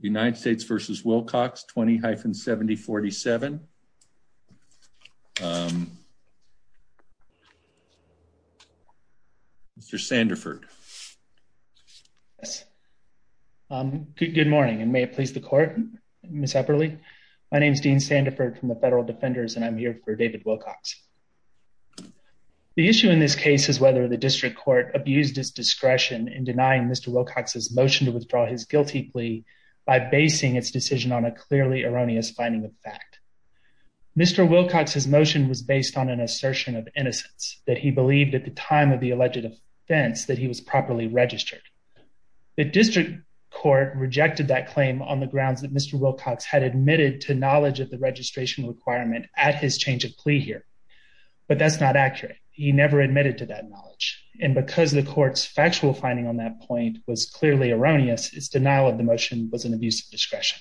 United States v. Wilcox 20-70-47. Mr. Sandiford. Good morning, and may it please the court, Ms. Epperle. My name is Dean Sandiford from the Federal Defenders, and I'm here for David Wilcox. The issue in this case is whether the district court abused its discretion in denying Mr. Wilcox's motion to withdraw his guilty plea by basing its decision on a clearly erroneous finding of fact. Mr. Wilcox's motion was based on an assertion of innocence that he believed at the time of the alleged offense that he was properly registered. The district court rejected that claim on the grounds that Mr. Wilcox had admitted to knowledge of the registration requirement at his change of plea here. But that's not accurate. He never admitted to that knowledge. And because the court's factual finding on that point was clearly erroneous, its denial of the motion was an abuse of discretion.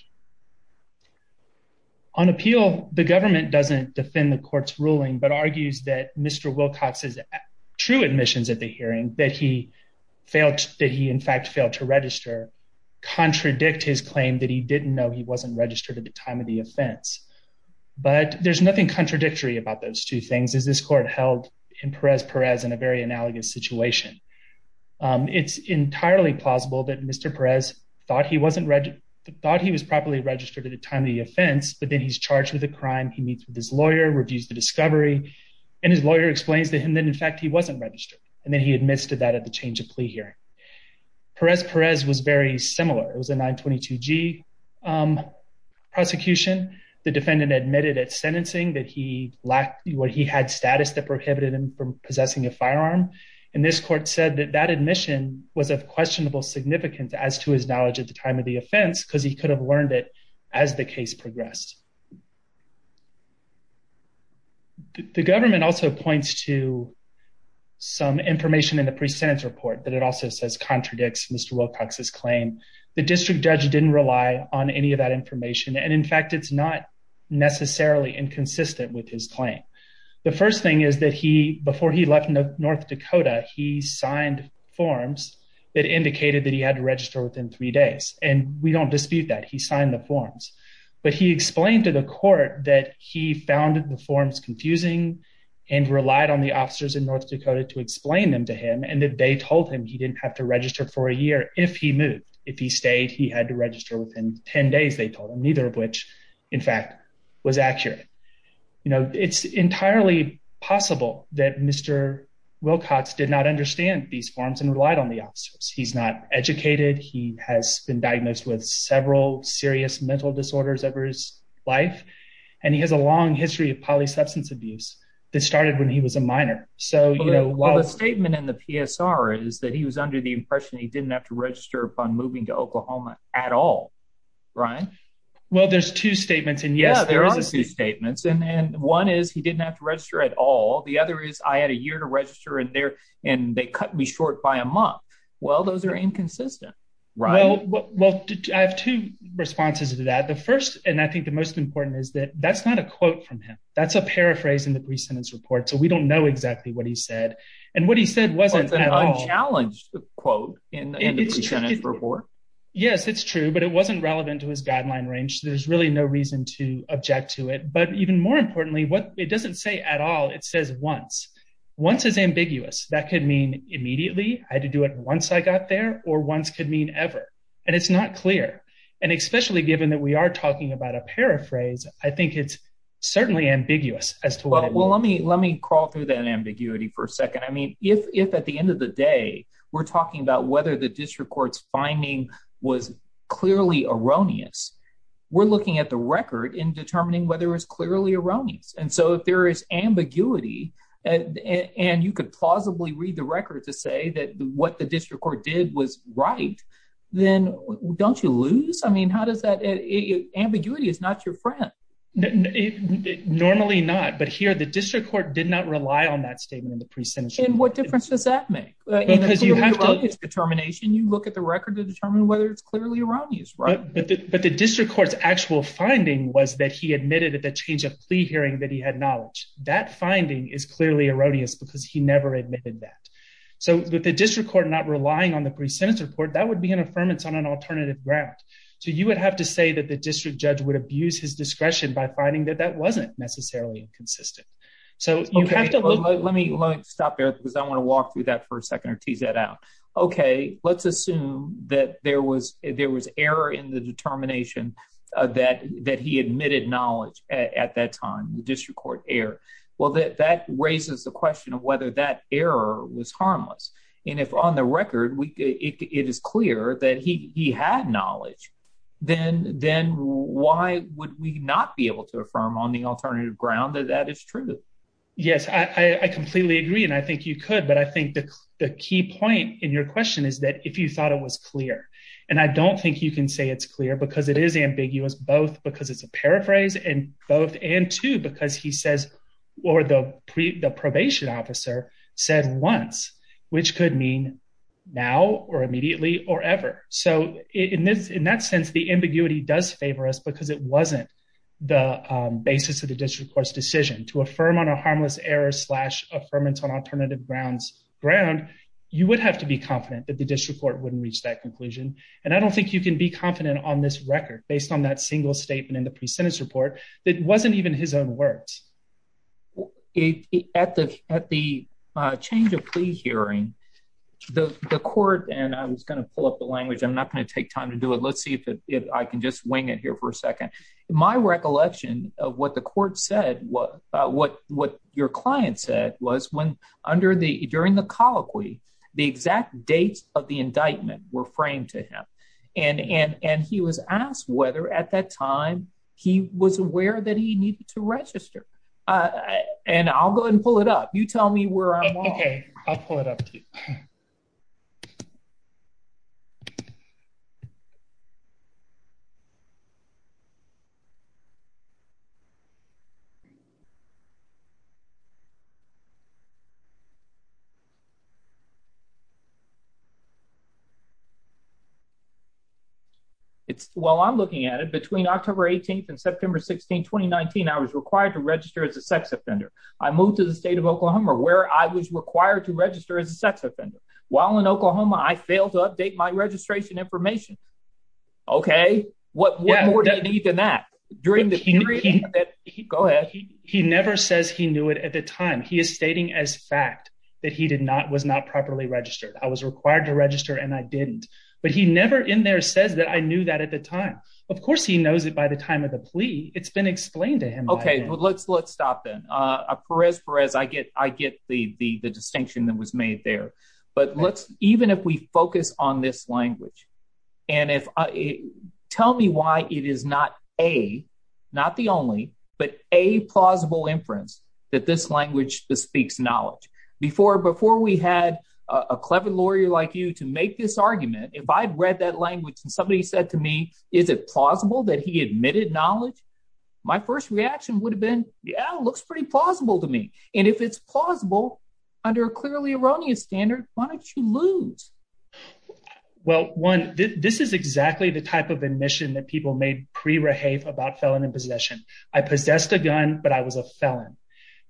On appeal, the government doesn't defend the court's ruling but argues that Mr. Wilcox's true admissions at the hearing that he failed, that he in fact failed to register, contradict his claim that he didn't know he wasn't registered at the time of the offense. But there's nothing contradictory about those two things as this court held in Perez-Perez in a very analogous situation. It's entirely plausible that Mr. Perez thought he was properly registered at the time of the offense, but then he's charged with a crime, he meets with his lawyer, reviews the discovery, and his lawyer explains to him that in fact, he wasn't registered. And then he admits to that at the change of plea hearing. Perez-Perez was very similar. It was a 922g prosecution. The defendant admitted at sentencing that he lacked what he had status that prohibited him from this court said that that admission was of questionable significance as to his knowledge at the time of the offense because he could have learned it as the case progressed. The government also points to some information in the pre-sentence report that it also says contradicts Mr. Wilcox's claim. The district judge didn't rely on any of that information. And in fact, it's not necessarily inconsistent with his claim. The he signed forms that indicated that he had to register within three days. And we don't dispute that he signed the forms. But he explained to the court that he found the forms confusing, and relied on the officers in North Dakota to explain them to him. And if they told him he didn't have to register for a year, if he moved, if he stayed, he had to register within 10 days, they told him neither of which, in fact, was accurate. You know, it's entirely possible that Mr. Wilcox did not understand these forms and relied on the officers. He's not educated, he has been diagnosed with several serious mental disorders over his life. And he has a long history of polysubstance abuse that started when he was a minor. So you know, while the statement in the PSR is that he was under the impression he didn't have to register upon moving to Oklahoma at all. Right? Well, there's two statements. And yes, there are two statements. And one is he didn't have to register at all. The other is I had a year to register in there. And they cut me short by a month. Well, those are inconsistent. Right? Well, well, I have two responses to that. The first and I think the most important is that that's not a quote from him. That's a paraphrase in the pre sentence report. So we don't know exactly what he said. And what he said wasn't challenged the quote in the report. Yes, it's true. But it wasn't relevant to his guideline range. There's really no reason to object to it. But even more importantly, what it doesn't say at all, it says once, once is ambiguous, that could mean immediately, I had to do it once I got there, or once could mean ever. And it's not clear. And especially given that we are talking about a paraphrase, I think it's certainly ambiguous as well. Well, let me let me crawl through that ambiguity for a second. I mean, if at the end of the day, we're talking about whether the district court's finding was clearly erroneous, we're looking at the record in determining whether it was clearly erroneous. And so if there is ambiguity, and you could plausibly read the record to say that what the district court did was right, then don't you lose? I mean, how does that ambiguity is not your friend? Normally not. But here, the district court did not rely on that statement in the pre sentence. And what difference does that make? It's determination, you look at the record to determine whether it's clearly erroneous, right? But the district court's actual finding was that he admitted at the change of plea hearing that he had knowledge that finding is clearly erroneous, because he never admitted that. So with the district court not relying on the pre sentence report, that would be an affirmance on an alternative ground. So you would have to say that the district judge would abuse his discretion by finding that that wasn't necessarily inconsistent. So you have to let me stop there, because I want to walk through that for a second or tease that out. Okay, let's assume that there was there was error in the determination that that he admitted knowledge at that time, the district court error. Well, that that raises the question of whether that error was harmless. And if on the record, we it is clear that he had knowledge, then then why would we not be able to affirm on the alternative ground that that is true? Yes, I completely agree. And I think you could, but I think the key point in your question is that if you thought it was clear, and I don't think you can say it's clear, because it is ambiguous, both because it's a paraphrase and both and two, because he says, or the pre the probation officer said once, which could mean now or immediately or ever. So in this in that sense, the ambiguity does favor us because it wasn't the basis of the district court's decision to affirm on a ground, you would have to be confident that the district court wouldn't reach that conclusion. And I don't think you can be confident on this record based on that single statement in the pre sentence report. That wasn't even his own words. It at the at the change of plea hearing, the court and I was going to pull up the language, I'm not going to take time to do it. Let's see if I can just wing it here for a second. My recollection of what the court said what what what your client said was when under the during the colloquy, the exact dates of the indictment were framed to him. And and and he was asked whether at that time, he was aware that he needed to register. And I'll go and pull it up. You tell me where I'm it's while I'm looking at it between October 18 and September 16 2019. I was required to register as a sex offender. I moved to the state of Oklahoma where I was required to register as a sex offender. While in Oklahoma, I failed to update my registration information. Okay, what what more do you need than that? During the hearing? Go ahead. He never says he knew it at the time he is stating as fact that he did not was not properly registered. I was required to register and I didn't. But he never in there says that I knew that at the time. Of course he knows it by the time of the plea. It's been explained to him. Okay, well, let's let's stop then. Perez I get I get the the distinction that was made there. But let's even if we focus on this language, and if I tell me why it is not a not the only but a plausible inference that this language bespeaks knowledge before before we had a clever lawyer like you to make this argument, if I'd read that language, and somebody said to me, is it plausible that he admitted knowledge? My first reaction would have been Yeah, looks pretty plausible to me. And if it's plausible, under a clearly erroneous standard, why don't you lose? Well, one, this is exactly the type of admission that people made pre rehave about felon in possession. I possessed a gun, but I was a felon.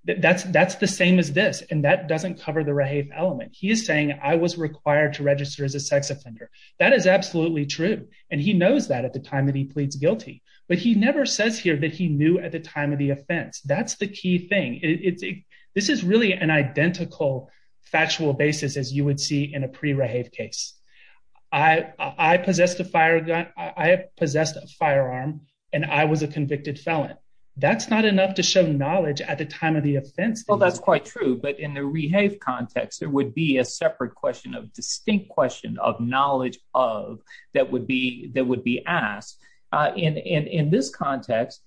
That's, that's the same as this. And that doesn't cover the rehave element. He is saying I was required to register as a sex offender. That is absolutely true. And he knows that at the time that he pleads guilty, but he never says here that he knew at the time of the offense. That's the key thing. It's, this is really an identical factual basis, as you would see in a pre rehave case, I possessed a fire gun, I possessed a firearm, and I was a convicted felon. That's not enough to show knowledge at the time of the offense. Well, that's quite true. But in the rehave context, there would be a separate question of distinct question of knowledge of that would be that would be asked in in this context.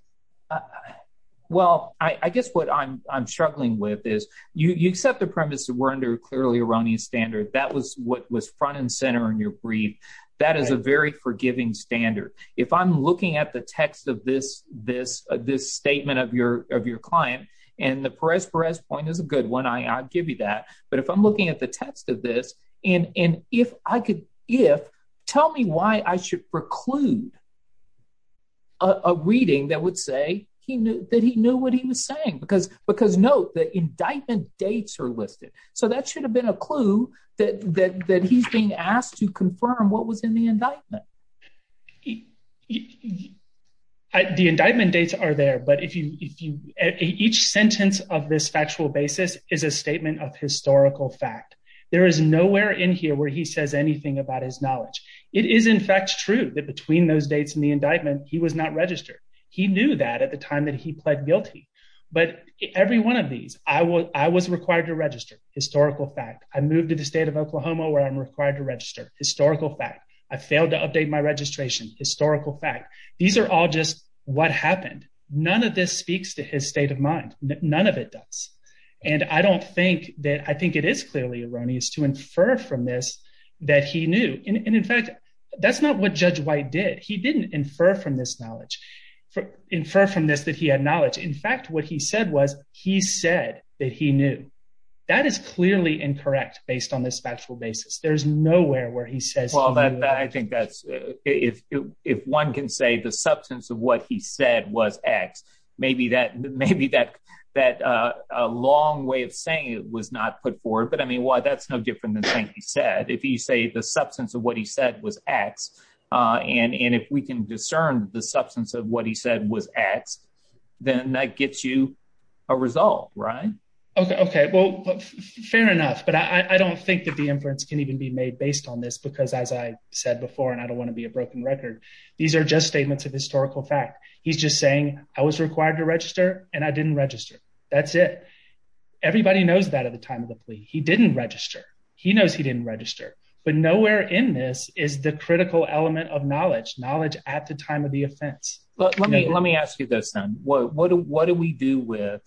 Well, I guess what I'm struggling with is you accept the premise that we're under clearly erroneous standard. That was what was front and center in your brief. That is a very forgiving standard. If I'm looking at the text of this, this, this statement of your of your client, and the press press point is a good one, I give you that. But if I'm looking at the text of this, and if I could, if tell me why I should preclude a reading that would say he knew that he knew what he was saying, because because note that indictment dates are listed. So that should have been a clue that that he's being asked to confirm what was in the indictment. The indictment dates are there. But if you if you each sentence of this factual basis is a statement of historical fact, there is nowhere in here where he says anything about his knowledge. It is in fact true that between those dates in the indictment, he was not registered. He knew that at the time that he pled guilty. But every one of these I was I was required to register historical fact, I moved to the state of Oklahoma where I'm required to register historical fact, I failed to update my registration historical fact. These are all just what happened. None of this speaks to his state of mind. None of it does. And I don't think that I think it is clearly erroneous to infer from this, that he knew. And in fact, that's not what Judge White did. He didn't infer from this knowledge for infer from this that he had knowledge. In fact, what he said was he said that he knew that is clearly incorrect based on this factual basis. There's nowhere where he says all that I think that's if, if one can say the substance of what he said was x, maybe that maybe that that a long way of saying it was not put forward. But I mean, why that's no different than he said, if you say the substance of what he said was x. And if we can discern the substance of what he said was x, then that gets you a result, right? Okay, okay. Well, fair enough. But I don't think that the inference can even be made based on this. Because as I said before, and I don't want to be a broken record. These are just statements of historical fact. He's just saying, I was required to register and I didn't register. That's it. Everybody knows that at the time of the plea, he didn't register, he knows he didn't register. But nowhere in this is the critical element of knowledge, knowledge at the time of the offense. But let me let me ask you this, then what do what do we do with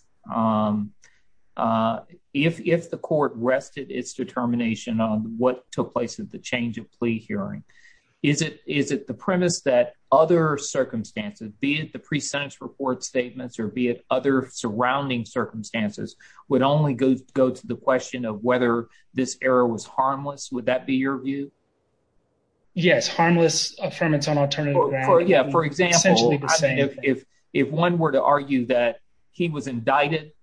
if the court rested its determination on what took place at the change of plea hearing? Is it is it the premise that other circumstances, be it the pre sentence report statements or be it other surrounding circumstances would only go go to the question of whether this error was harmless? Would that be your view? Yes, harmless affirmance on alternative. Yeah, for example, if, if one were to argue that he was indicted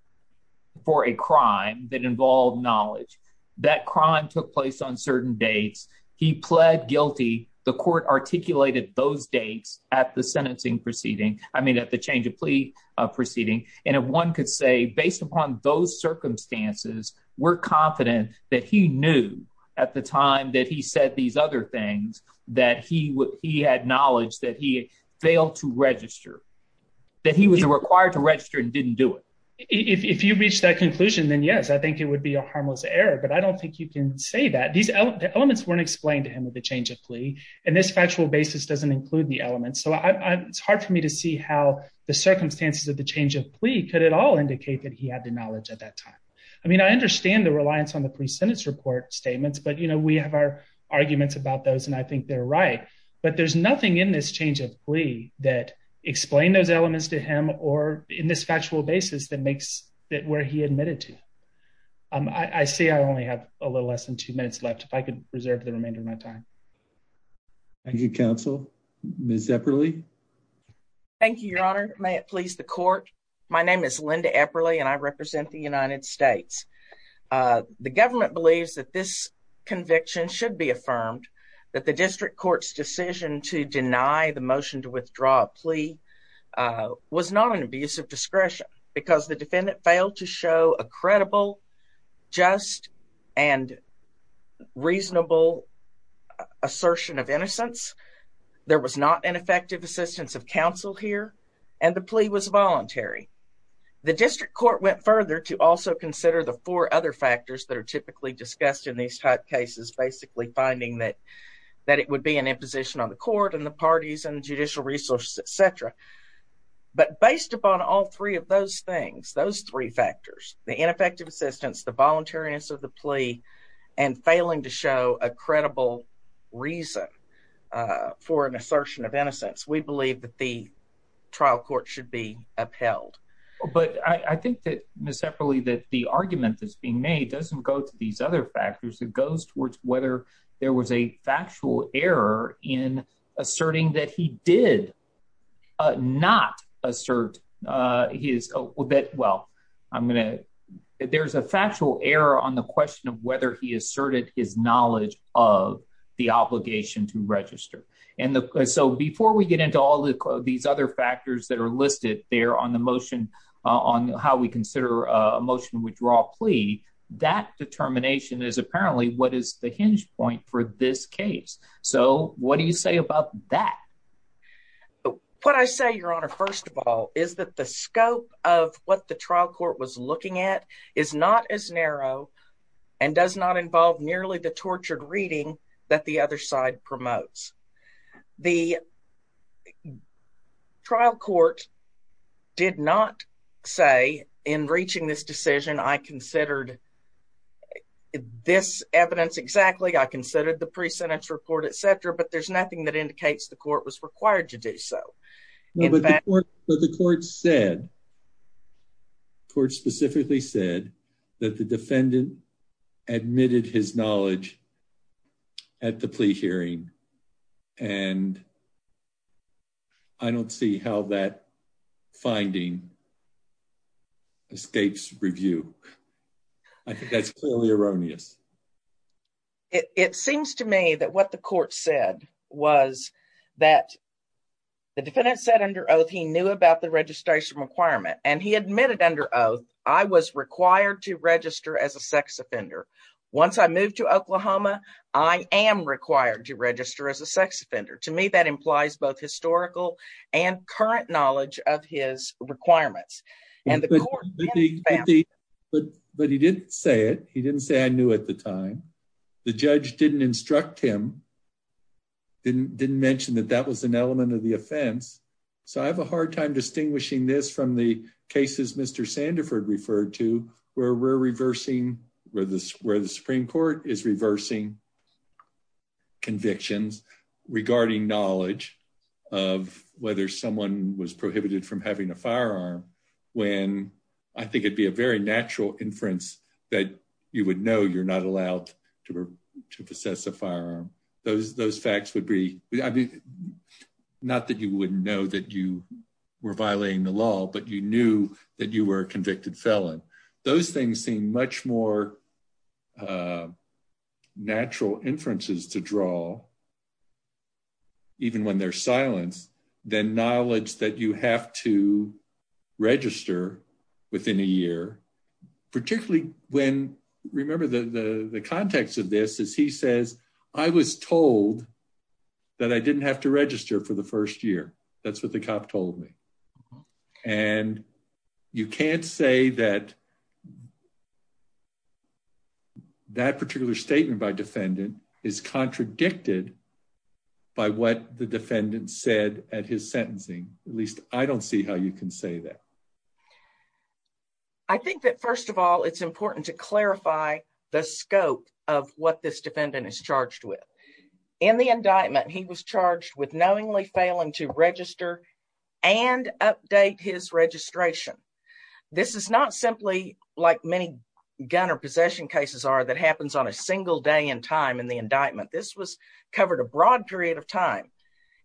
for a crime that involved knowledge, that crime took place on certain dates, he pled guilty, the court articulated those dates at the sentencing proceeding, I mean, at the change of plea proceeding. And if one could say based upon those circumstances, we're confident that he knew at the time that he said these other things, that he would he had knowledge that he failed to register, that he was required to register and didn't do it. If you reach that conclusion, then yes, I think it would be a say that these elements weren't explained to him at the change of plea. And this factual basis doesn't include the elements. So I it's hard for me to see how the circumstances of the change of plea could at all indicate that he had the knowledge at that time. I mean, I understand the reliance on the pre sentence report statements, but you know, we have our arguments about those. And I think they're right. But there's nothing in this change of plea that explain those elements to him or in this factual basis that makes that where he admitted to, I see, I only have a little less than two minutes left, if I could reserve the remainder of my time. Thank you, counsel. Miss Epperle. Thank you, Your Honor. May it please the court. My name is Linda Epperle, and I represent the United States. The government believes that this conviction should be affirmed that the district court's decision to deny the motion to withdraw plea was not an abuse of discretion, because the and reasonable assertion of innocence, there was not an effective assistance of counsel here, and the plea was voluntary. The district court went further to also consider the four other factors that are typically discussed in these type cases, basically finding that, that it would be an imposition on the court and the parties and judicial resources, etc. But based upon all three of those things, those three factors, the ineffective assistance, the voluntariness of the plea, and failing to show a credible reason for an assertion of innocence, we believe that the trial court should be upheld. But I think that, Miss Epperle, that the argument that's being made doesn't go to these other factors, it goes towards whether there was a factual error in asserting that he did not assert his, well, I'm going to, there's a factual error on the question of whether he asserted his knowledge of the obligation to register. And so before we get into all these other factors that are listed there on the motion, on how we consider a motion withdraw plea, that determination is apparently what is the hinge point for this case. So what do you say about that? What I say, Your Honor, first of all, is that the scope of what the trial court was looking at is not as narrow, and does not involve nearly the tortured reading that the other side promotes. The trial court did not say in reaching this decision, I considered this evidence exactly, I considered the pre sentence report, etc. But there's nothing that would require the court to do so. No, but the court said, the court specifically said that the defendant admitted his knowledge at the plea hearing. And I don't see how that finding escapes review. I think that's clearly erroneous. It seems to me that what the court said was that the defendant said under oath, he knew about the registration requirement, and he admitted under oath, I was required to register as a sex offender. Once I moved to Oklahoma, I am required to register as a sex offender. To me, that implies both historical and current knowledge of his requirements. And the court did, but but he didn't say it. He didn't say I knew at the time. The judge didn't instruct him. Didn't didn't mention that that was an element of the offense. So I have a hard time distinguishing this from the cases Mr. Sandiford referred to where we're reversing where the where the Supreme Court is reversing convictions regarding knowledge of whether someone was I think it'd be a very natural inference that you would know you're not allowed to possess a firearm. Those those facts would be not that you wouldn't know that you were violating the law, but you knew that you were convicted felon. Those things seem much more natural inferences to draw. Even when they're silenced, then knowledge that you have to register within a year, particularly when remember the context of this is he says, I was told that I didn't have to register for the first year. That's what the cop told me. And you can't say that that particular statement by defendant is contradicted by what the defendant said at his sentencing. At least I don't see how you can say that. I think that first of all, it's important to clarify the scope of what this defendant is charged with. In the indictment, he was charged with knowingly failing to register and update his registration. This is not simply like many gun or possession cases are that happens on a single day in time in the indictment. This was covered a broad period of time.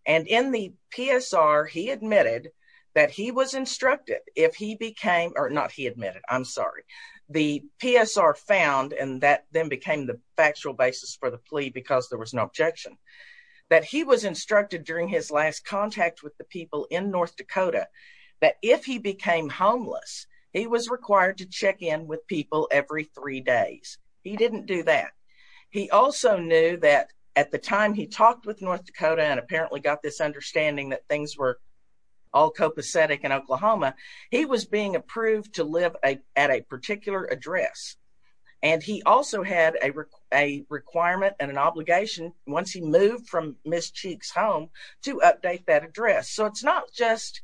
And in the PSR, he admitted that he was instructed if he became or not he admitted, I'm sorry, the PSR found and that then became the factual basis for the plea because there was no objection that he was instructed during his last contact with the people in North Dakota, that if he became homeless, he was required to check in with people every three days. He didn't do that. He also knew that at the time he talked with North Dakota and apparently got this understanding that things were all copacetic in Oklahoma, he was being approved to live at a particular address. And he also had a requirement and an obligation once he moved from Miss Cheek's home to update that address. So it's not just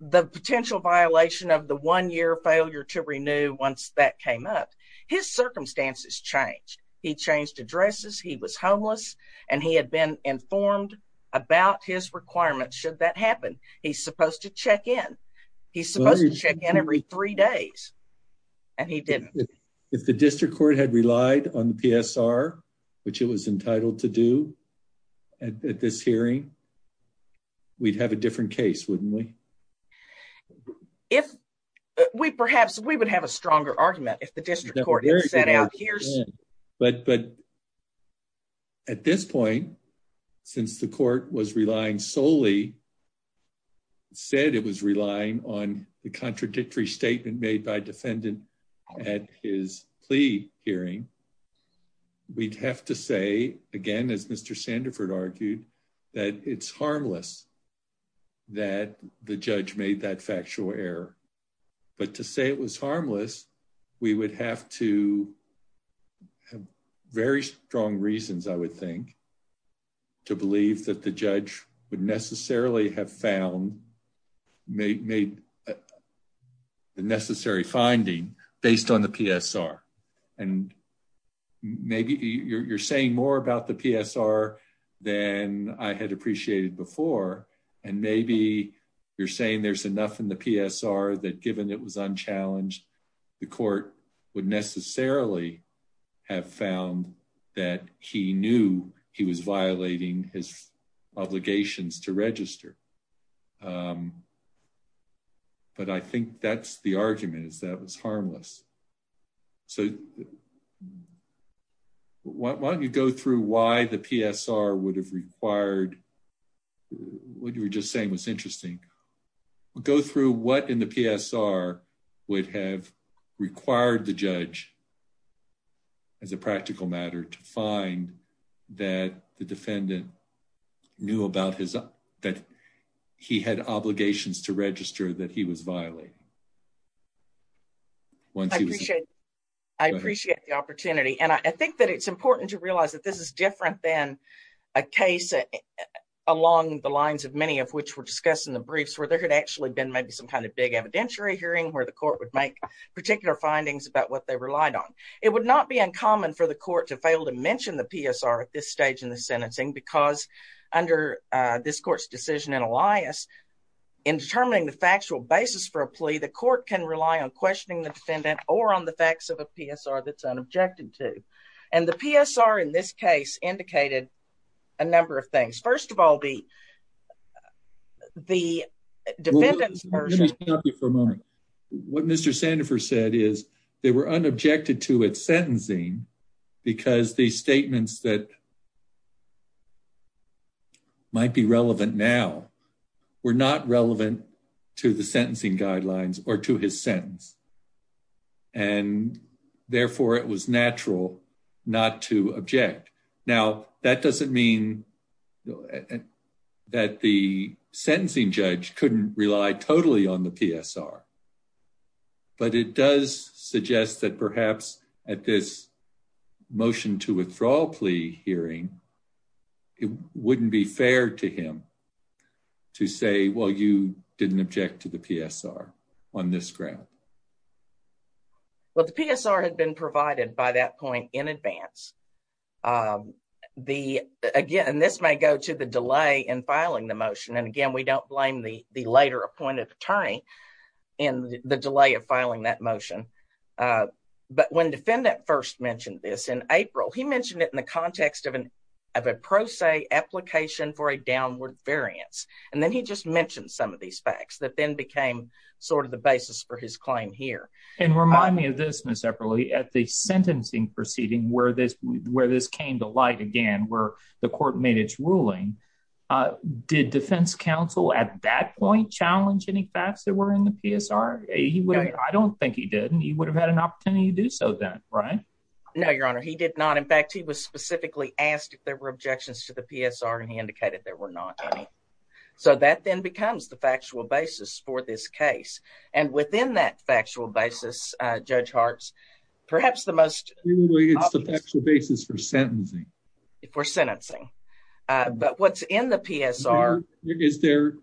the potential violation of the one year failure to renew once that came up. His circumstances changed. He changed addresses, he was homeless, and he had been informed about his requirements should that happen. He's supposed to check in. He's supposed to check in every three days. And he didn't. If the district court had relied on the PSR, which it was entitled to do at this hearing, we'd have a different case, wouldn't we? If we perhaps we would have a stronger argument if the district court set out here. But but at this point, since the court was relying solely said it was relying on the contradictory statement made by defendant at his plea hearing. We'd have to say again, as Mr. Sandefur argued that it's harmless, that the judge made that factual error. But to say it was harmless, we would have to have very strong reasons, I would think, to believe that the judge would necessarily have found made the necessary finding based on the PSR. And maybe you're saying more about the PSR than I had appreciated before. And maybe you're saying there's enough in the PSR that given it was unchallenged, the court would necessarily have found that he knew he was violating his obligations to register. But I think that's the argument is that was harmless. So why don't you go through why the PSR would have required what you were just saying was interesting. Go through what in the PSR would have required the judge as a practical matter to find that the defendant knew about his, that he had obligations to register that he was violating. Once he was I appreciate the opportunity. And I think that it's important to realize that this is different than a case along the lines of many of which were discussed in the briefs where there had actually been maybe some kind of big evidentiary hearing where the court would make particular findings about what they relied on. It would not be uncommon for the court to fail to mention the PSR at this stage in the sentencing because under this court's decision in Elias, in determining the factual basis for a plea, the court can rely on questioning the defendant or on the facts of a PSR that's unobjected to. And the PSR in this case indicated a number of things. First of all, the defendant's version... Let me stop you for a moment. What Mr. Sandefur said is they were unobjected to at sentencing because the statements that might be relevant now were not relevant to the sentencing guidelines or to his sentence. And therefore it was natural not to object. Now, that doesn't mean that the sentencing judge couldn't rely totally on the PSR. But it does suggest that perhaps at this motion to withdrawal plea hearing, it wouldn't be fair to him to say, well, you didn't object to the PSR on this ground. Well, the PSR had been provided by that point in advance. Again, this may go to the delay in filing the motion. And again, we don't blame the later appointed attorney in the delay of filing that motion. But when defendant first mentioned this in April, he mentioned it in the context of a pro se application for a downward variance. And then he just mentioned some of facts that then became sort of the basis for his claim here. And remind me of this separately at the sentencing proceeding where this where this came to light again, where the court made its ruling. Did defense counsel at that point challenge any facts that were in the PSR? I don't think he did. And he would have had an opportunity to do so then, right? No, Your Honor, he did not. In fact, he was specifically asked if there were objections to the PSR and he indicated there were not any. So that then becomes the factual basis for this case. And within that factual basis, Judge Hartz, perhaps the most basis for sentencing, for sentencing, but what's in the PSR, is there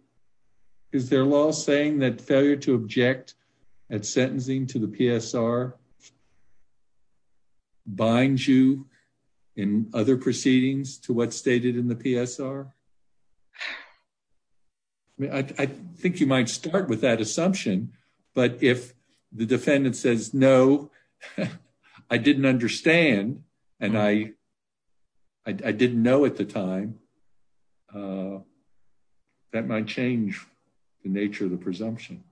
is there law saying that failure to object at sentencing to the PSR binds you in other proceedings to what's I mean, I think you might start with that assumption. But if the defendant says, No, I didn't understand. And I, I didn't know at the time. That might change the nature of the presumption.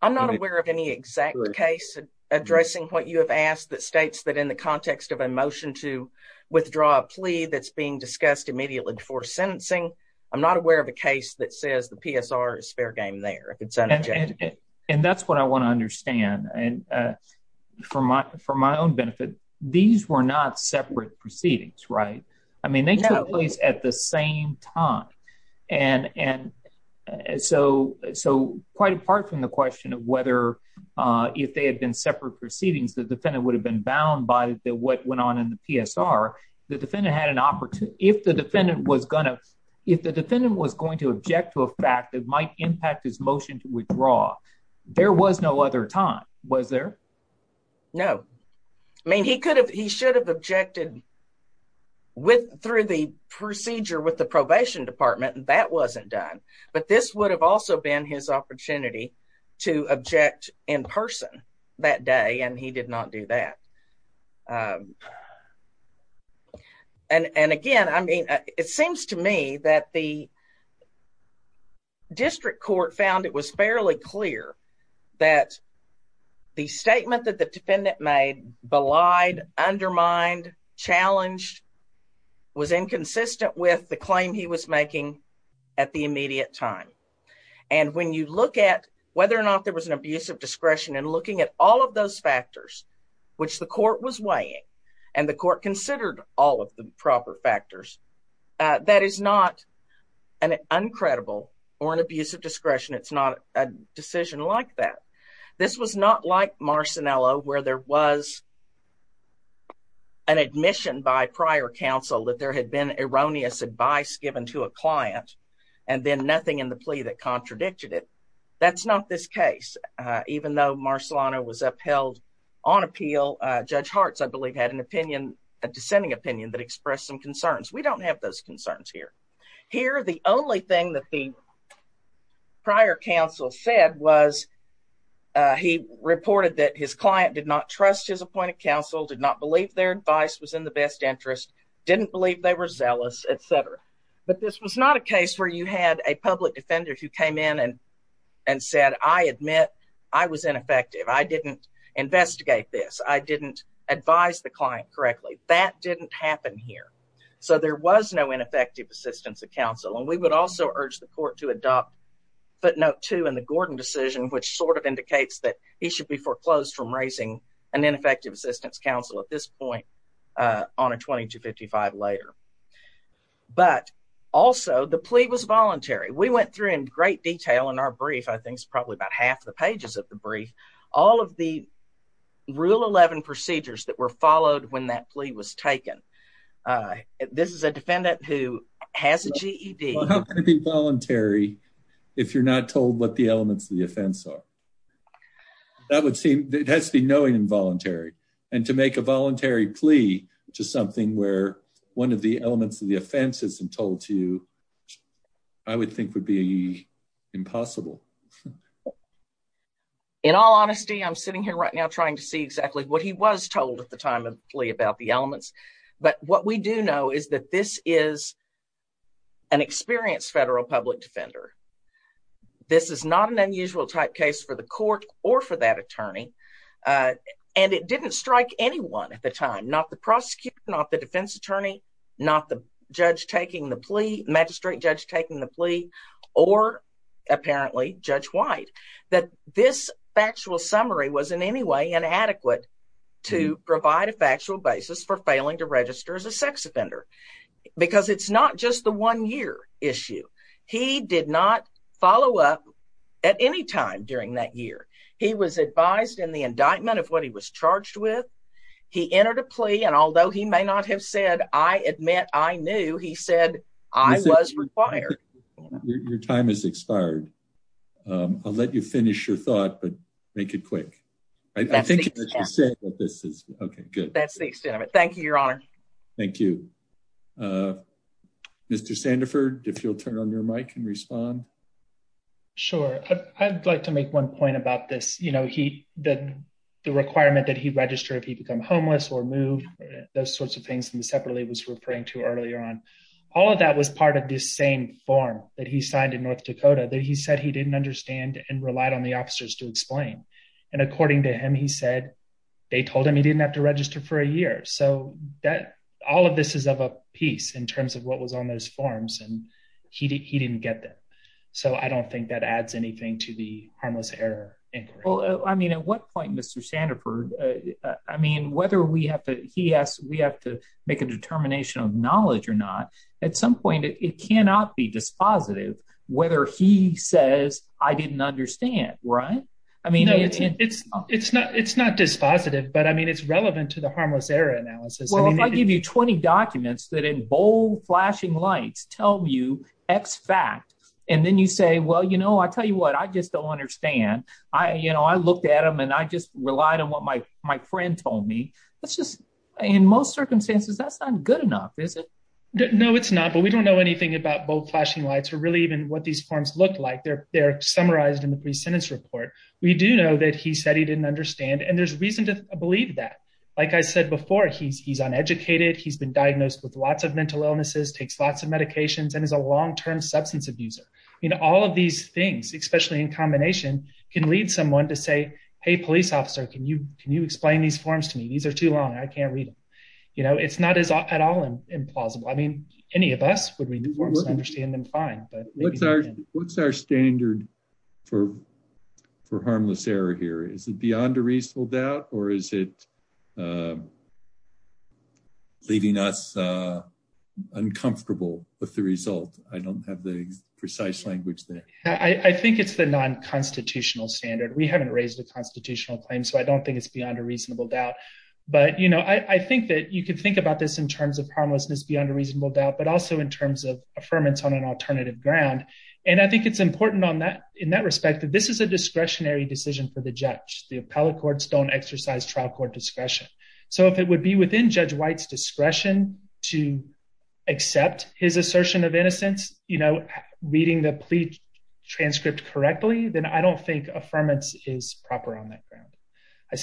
I'm not aware of any exact case addressing what you have asked that states that in the context of a motion to withdraw a plea that's being discussed immediately before sentencing. I'm not aware of a case that says the PSR is fair game there if it's an objection. And that's what I want to understand. And for my for my own benefit, these were not separate proceedings, right? I mean, they took place at the same time. And and so so quite apart from the question of whether if they had been separate proceedings, the defendant would have been bound by the what went on in the PSR, the defendant had an opportunity if the defendant was going to, if the defendant was going to object to a fact that might impact his motion to withdraw. There was no other time was there? No. I mean, he could have he should have objected with through the procedure with the probation department. And that wasn't done. But this would have also been his opportunity to object in that day, and he did not do that. And again, I mean, it seems to me that the district court found it was fairly clear that the statement that the defendant made belied, undermined, challenged, was inconsistent with the claim he was making at the immediate time. And when you look at whether or not there was an abuse of discretion and looking at all of those factors, which the court was weighing, and the court considered all of the proper factors, that is not an uncredible or an abuse of discretion. It's not a decision like that. This was not like Marcinello, where there was an admission by prior counsel that there had been erroneous advice given to a client, and then nothing in the plea that that's not this case. Even though Marcellano was upheld on appeal, Judge Harts, I believe, had an opinion, a dissenting opinion that expressed some concerns. We don't have those concerns here. Here, the only thing that the prior counsel said was, he reported that his client did not trust his appointed counsel did not believe their advice was in the best interest, didn't believe they were zealous, etc. But this was not a case where you had a public defender who came in and and said, I admit, I was ineffective. I didn't investigate this. I didn't advise the client correctly. That didn't happen here. So there was no ineffective assistance of counsel. And we would also urge the court to adopt footnote two in the Gordon decision, which sort of indicates that he should be foreclosed from raising an ineffective assistance counsel at this point, on a 2255 later. But also the plea was voluntary. We went through in great detail in our brief, I think it's probably about half the pages of the brief, all of the rule 11 procedures that were followed when that plea was taken. This is a defendant who has a GED voluntary, if you're not told what the elements of the offense are. That would seem it has to be knowing involuntary, and to make a voluntary plea, which is something where one of the elements of the offenses and told to you, I would think would be impossible. In all honesty, I'm sitting here right now trying to see exactly what he was told at the time of plea about the elements. But what we do know is that this is an experienced federal public defender. This is not an unusual type case for the court or for that attorney. And it didn't strike anyone at the time, not the prosecutor, not the defense attorney, not the judge taking the plea magistrate judge taking the or apparently Judge White, that this factual summary was in any way inadequate to provide a factual basis for failing to register as a sex offender. Because it's not just the one year issue. He did not follow up at any time during that year. He was advised in the indictment of what he was charged with. He entered a plea and although he may not have said I admit I knew he said I was required. Your time is expired. I'll let you finish your thought but make it quick. I think this is okay. Good. That's the extent of it. Thank you, Your Honor. Thank you. Mr. Sandefur, if you'll turn on your mic and respond. Sure, I'd like to make one point about this. You know, he did the requirement that he register if he become homeless or move those All of that was part of the same form that he signed in North Dakota that he said he didn't understand and relied on the officers to explain. And according to him, he said, they told him he didn't have to register for a year. So that all of this is of a piece in terms of what was on those forms, and he didn't get that. So I don't think that adds anything to the harmless error. Well, I mean, at what point, Mr. Sandefur, I mean, whether we have to, he has, we have to make a determination of knowledge or not, at some point, it cannot be dispositive, whether he says, I didn't understand, right? I mean, it's, it's not, it's not dispositive. But I mean, it's relevant to the harmless error analysis. Well, if I give you 20 documents that in bold flashing lights, tell you X fact, and then you say, Well, you know, I tell you what, I just don't understand. I, you know, I looked at them, and I just relied on what my, my friend told me. That's just, in most circumstances, that's not good enough, is it? No, it's not. But we don't know anything about bold flashing lights, or really even what these forms look like. They're, they're summarized in the pre sentence report, we do know that he said he didn't understand. And there's reason to believe that, like I said before, he's, he's uneducated, he's been diagnosed with lots of mental illnesses, takes lots of medications, and is a long term substance abuser. You know, all of these things, especially in combination, can lead someone to say, Hey, police officer, can you can you explain these forms to me? These are too long, I can't read them. You know, it's not as at all implausible. I mean, any of us would read the forms and understand them fine. But what's our standard for, for harmless error here? Is it beyond a reasonable doubt? Or is it leaving us uncomfortable with the result? I don't have the precise language that I think it's the non constitutional standard, we haven't raised a constitutional claim. So I don't think it's beyond a reasonable doubt. But you know, I think that you can think about this in terms of harmlessness beyond a reasonable doubt, but also in terms of affirmance on an alternative ground. And I think it's important on that, in that respect, that this is a discretionary decision for the judge, the appellate courts don't exercise trial court discretion. So if it would be within Judge White's discretion to accept his assertion of innocence, you know, reading the plea transcript correctly, then I don't think affirmance is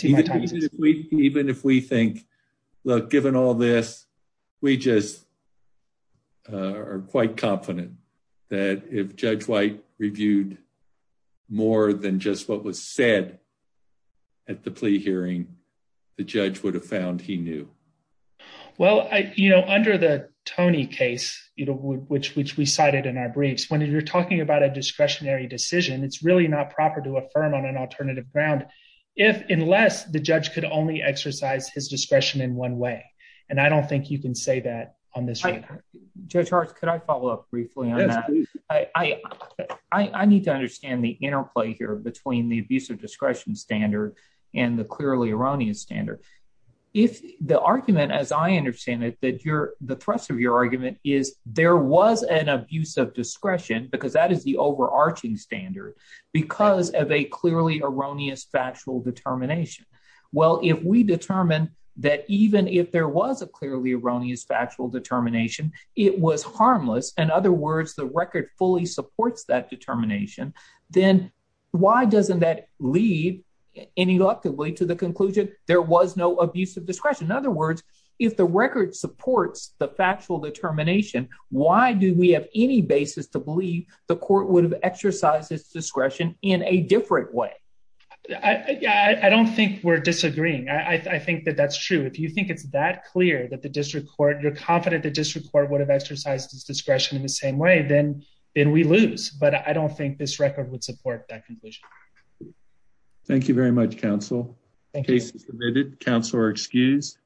even if we think, look, given all this, we just are quite confident that if Judge White reviewed more than just what was said at the plea hearing, the judge would have found he knew. Well, I you know, under the Tony case, you know, which which we cited in our briefs, when you're talking about a discretionary decision, it's really not proper to affirm on an alternative ground, if unless the judge could only exercise his discretion in one way. And I don't think you can say that on this. Judge Hart, could I follow up briefly on that? I need to understand the interplay here between the abuse of discretion standard and the clearly erroneous standard. If the argument as I understand it, that you're the thrust of your argument is there was an abuse of discretion, because that is the overarching standard, because of a clearly erroneous factual determination. Well, if we determine that even if there was a clearly erroneous factual determination, it was harmless. In other words, the record fully supports that determination, then why doesn't that lead ineluctably to the conclusion, there was no abuse of discretion. In other words, if the record supports the factual determination, why do we have any basis to believe the court would have exercised its discretion in a different way? I don't think we're disagreeing. I think that that's true. If you think it's that clear that the district court, you're confident the district court would have exercised its discretion in the same way, then we lose. But I don't think this record would support that conclusion. Thank you very much, counsel. Case is submitted. Counselor excused.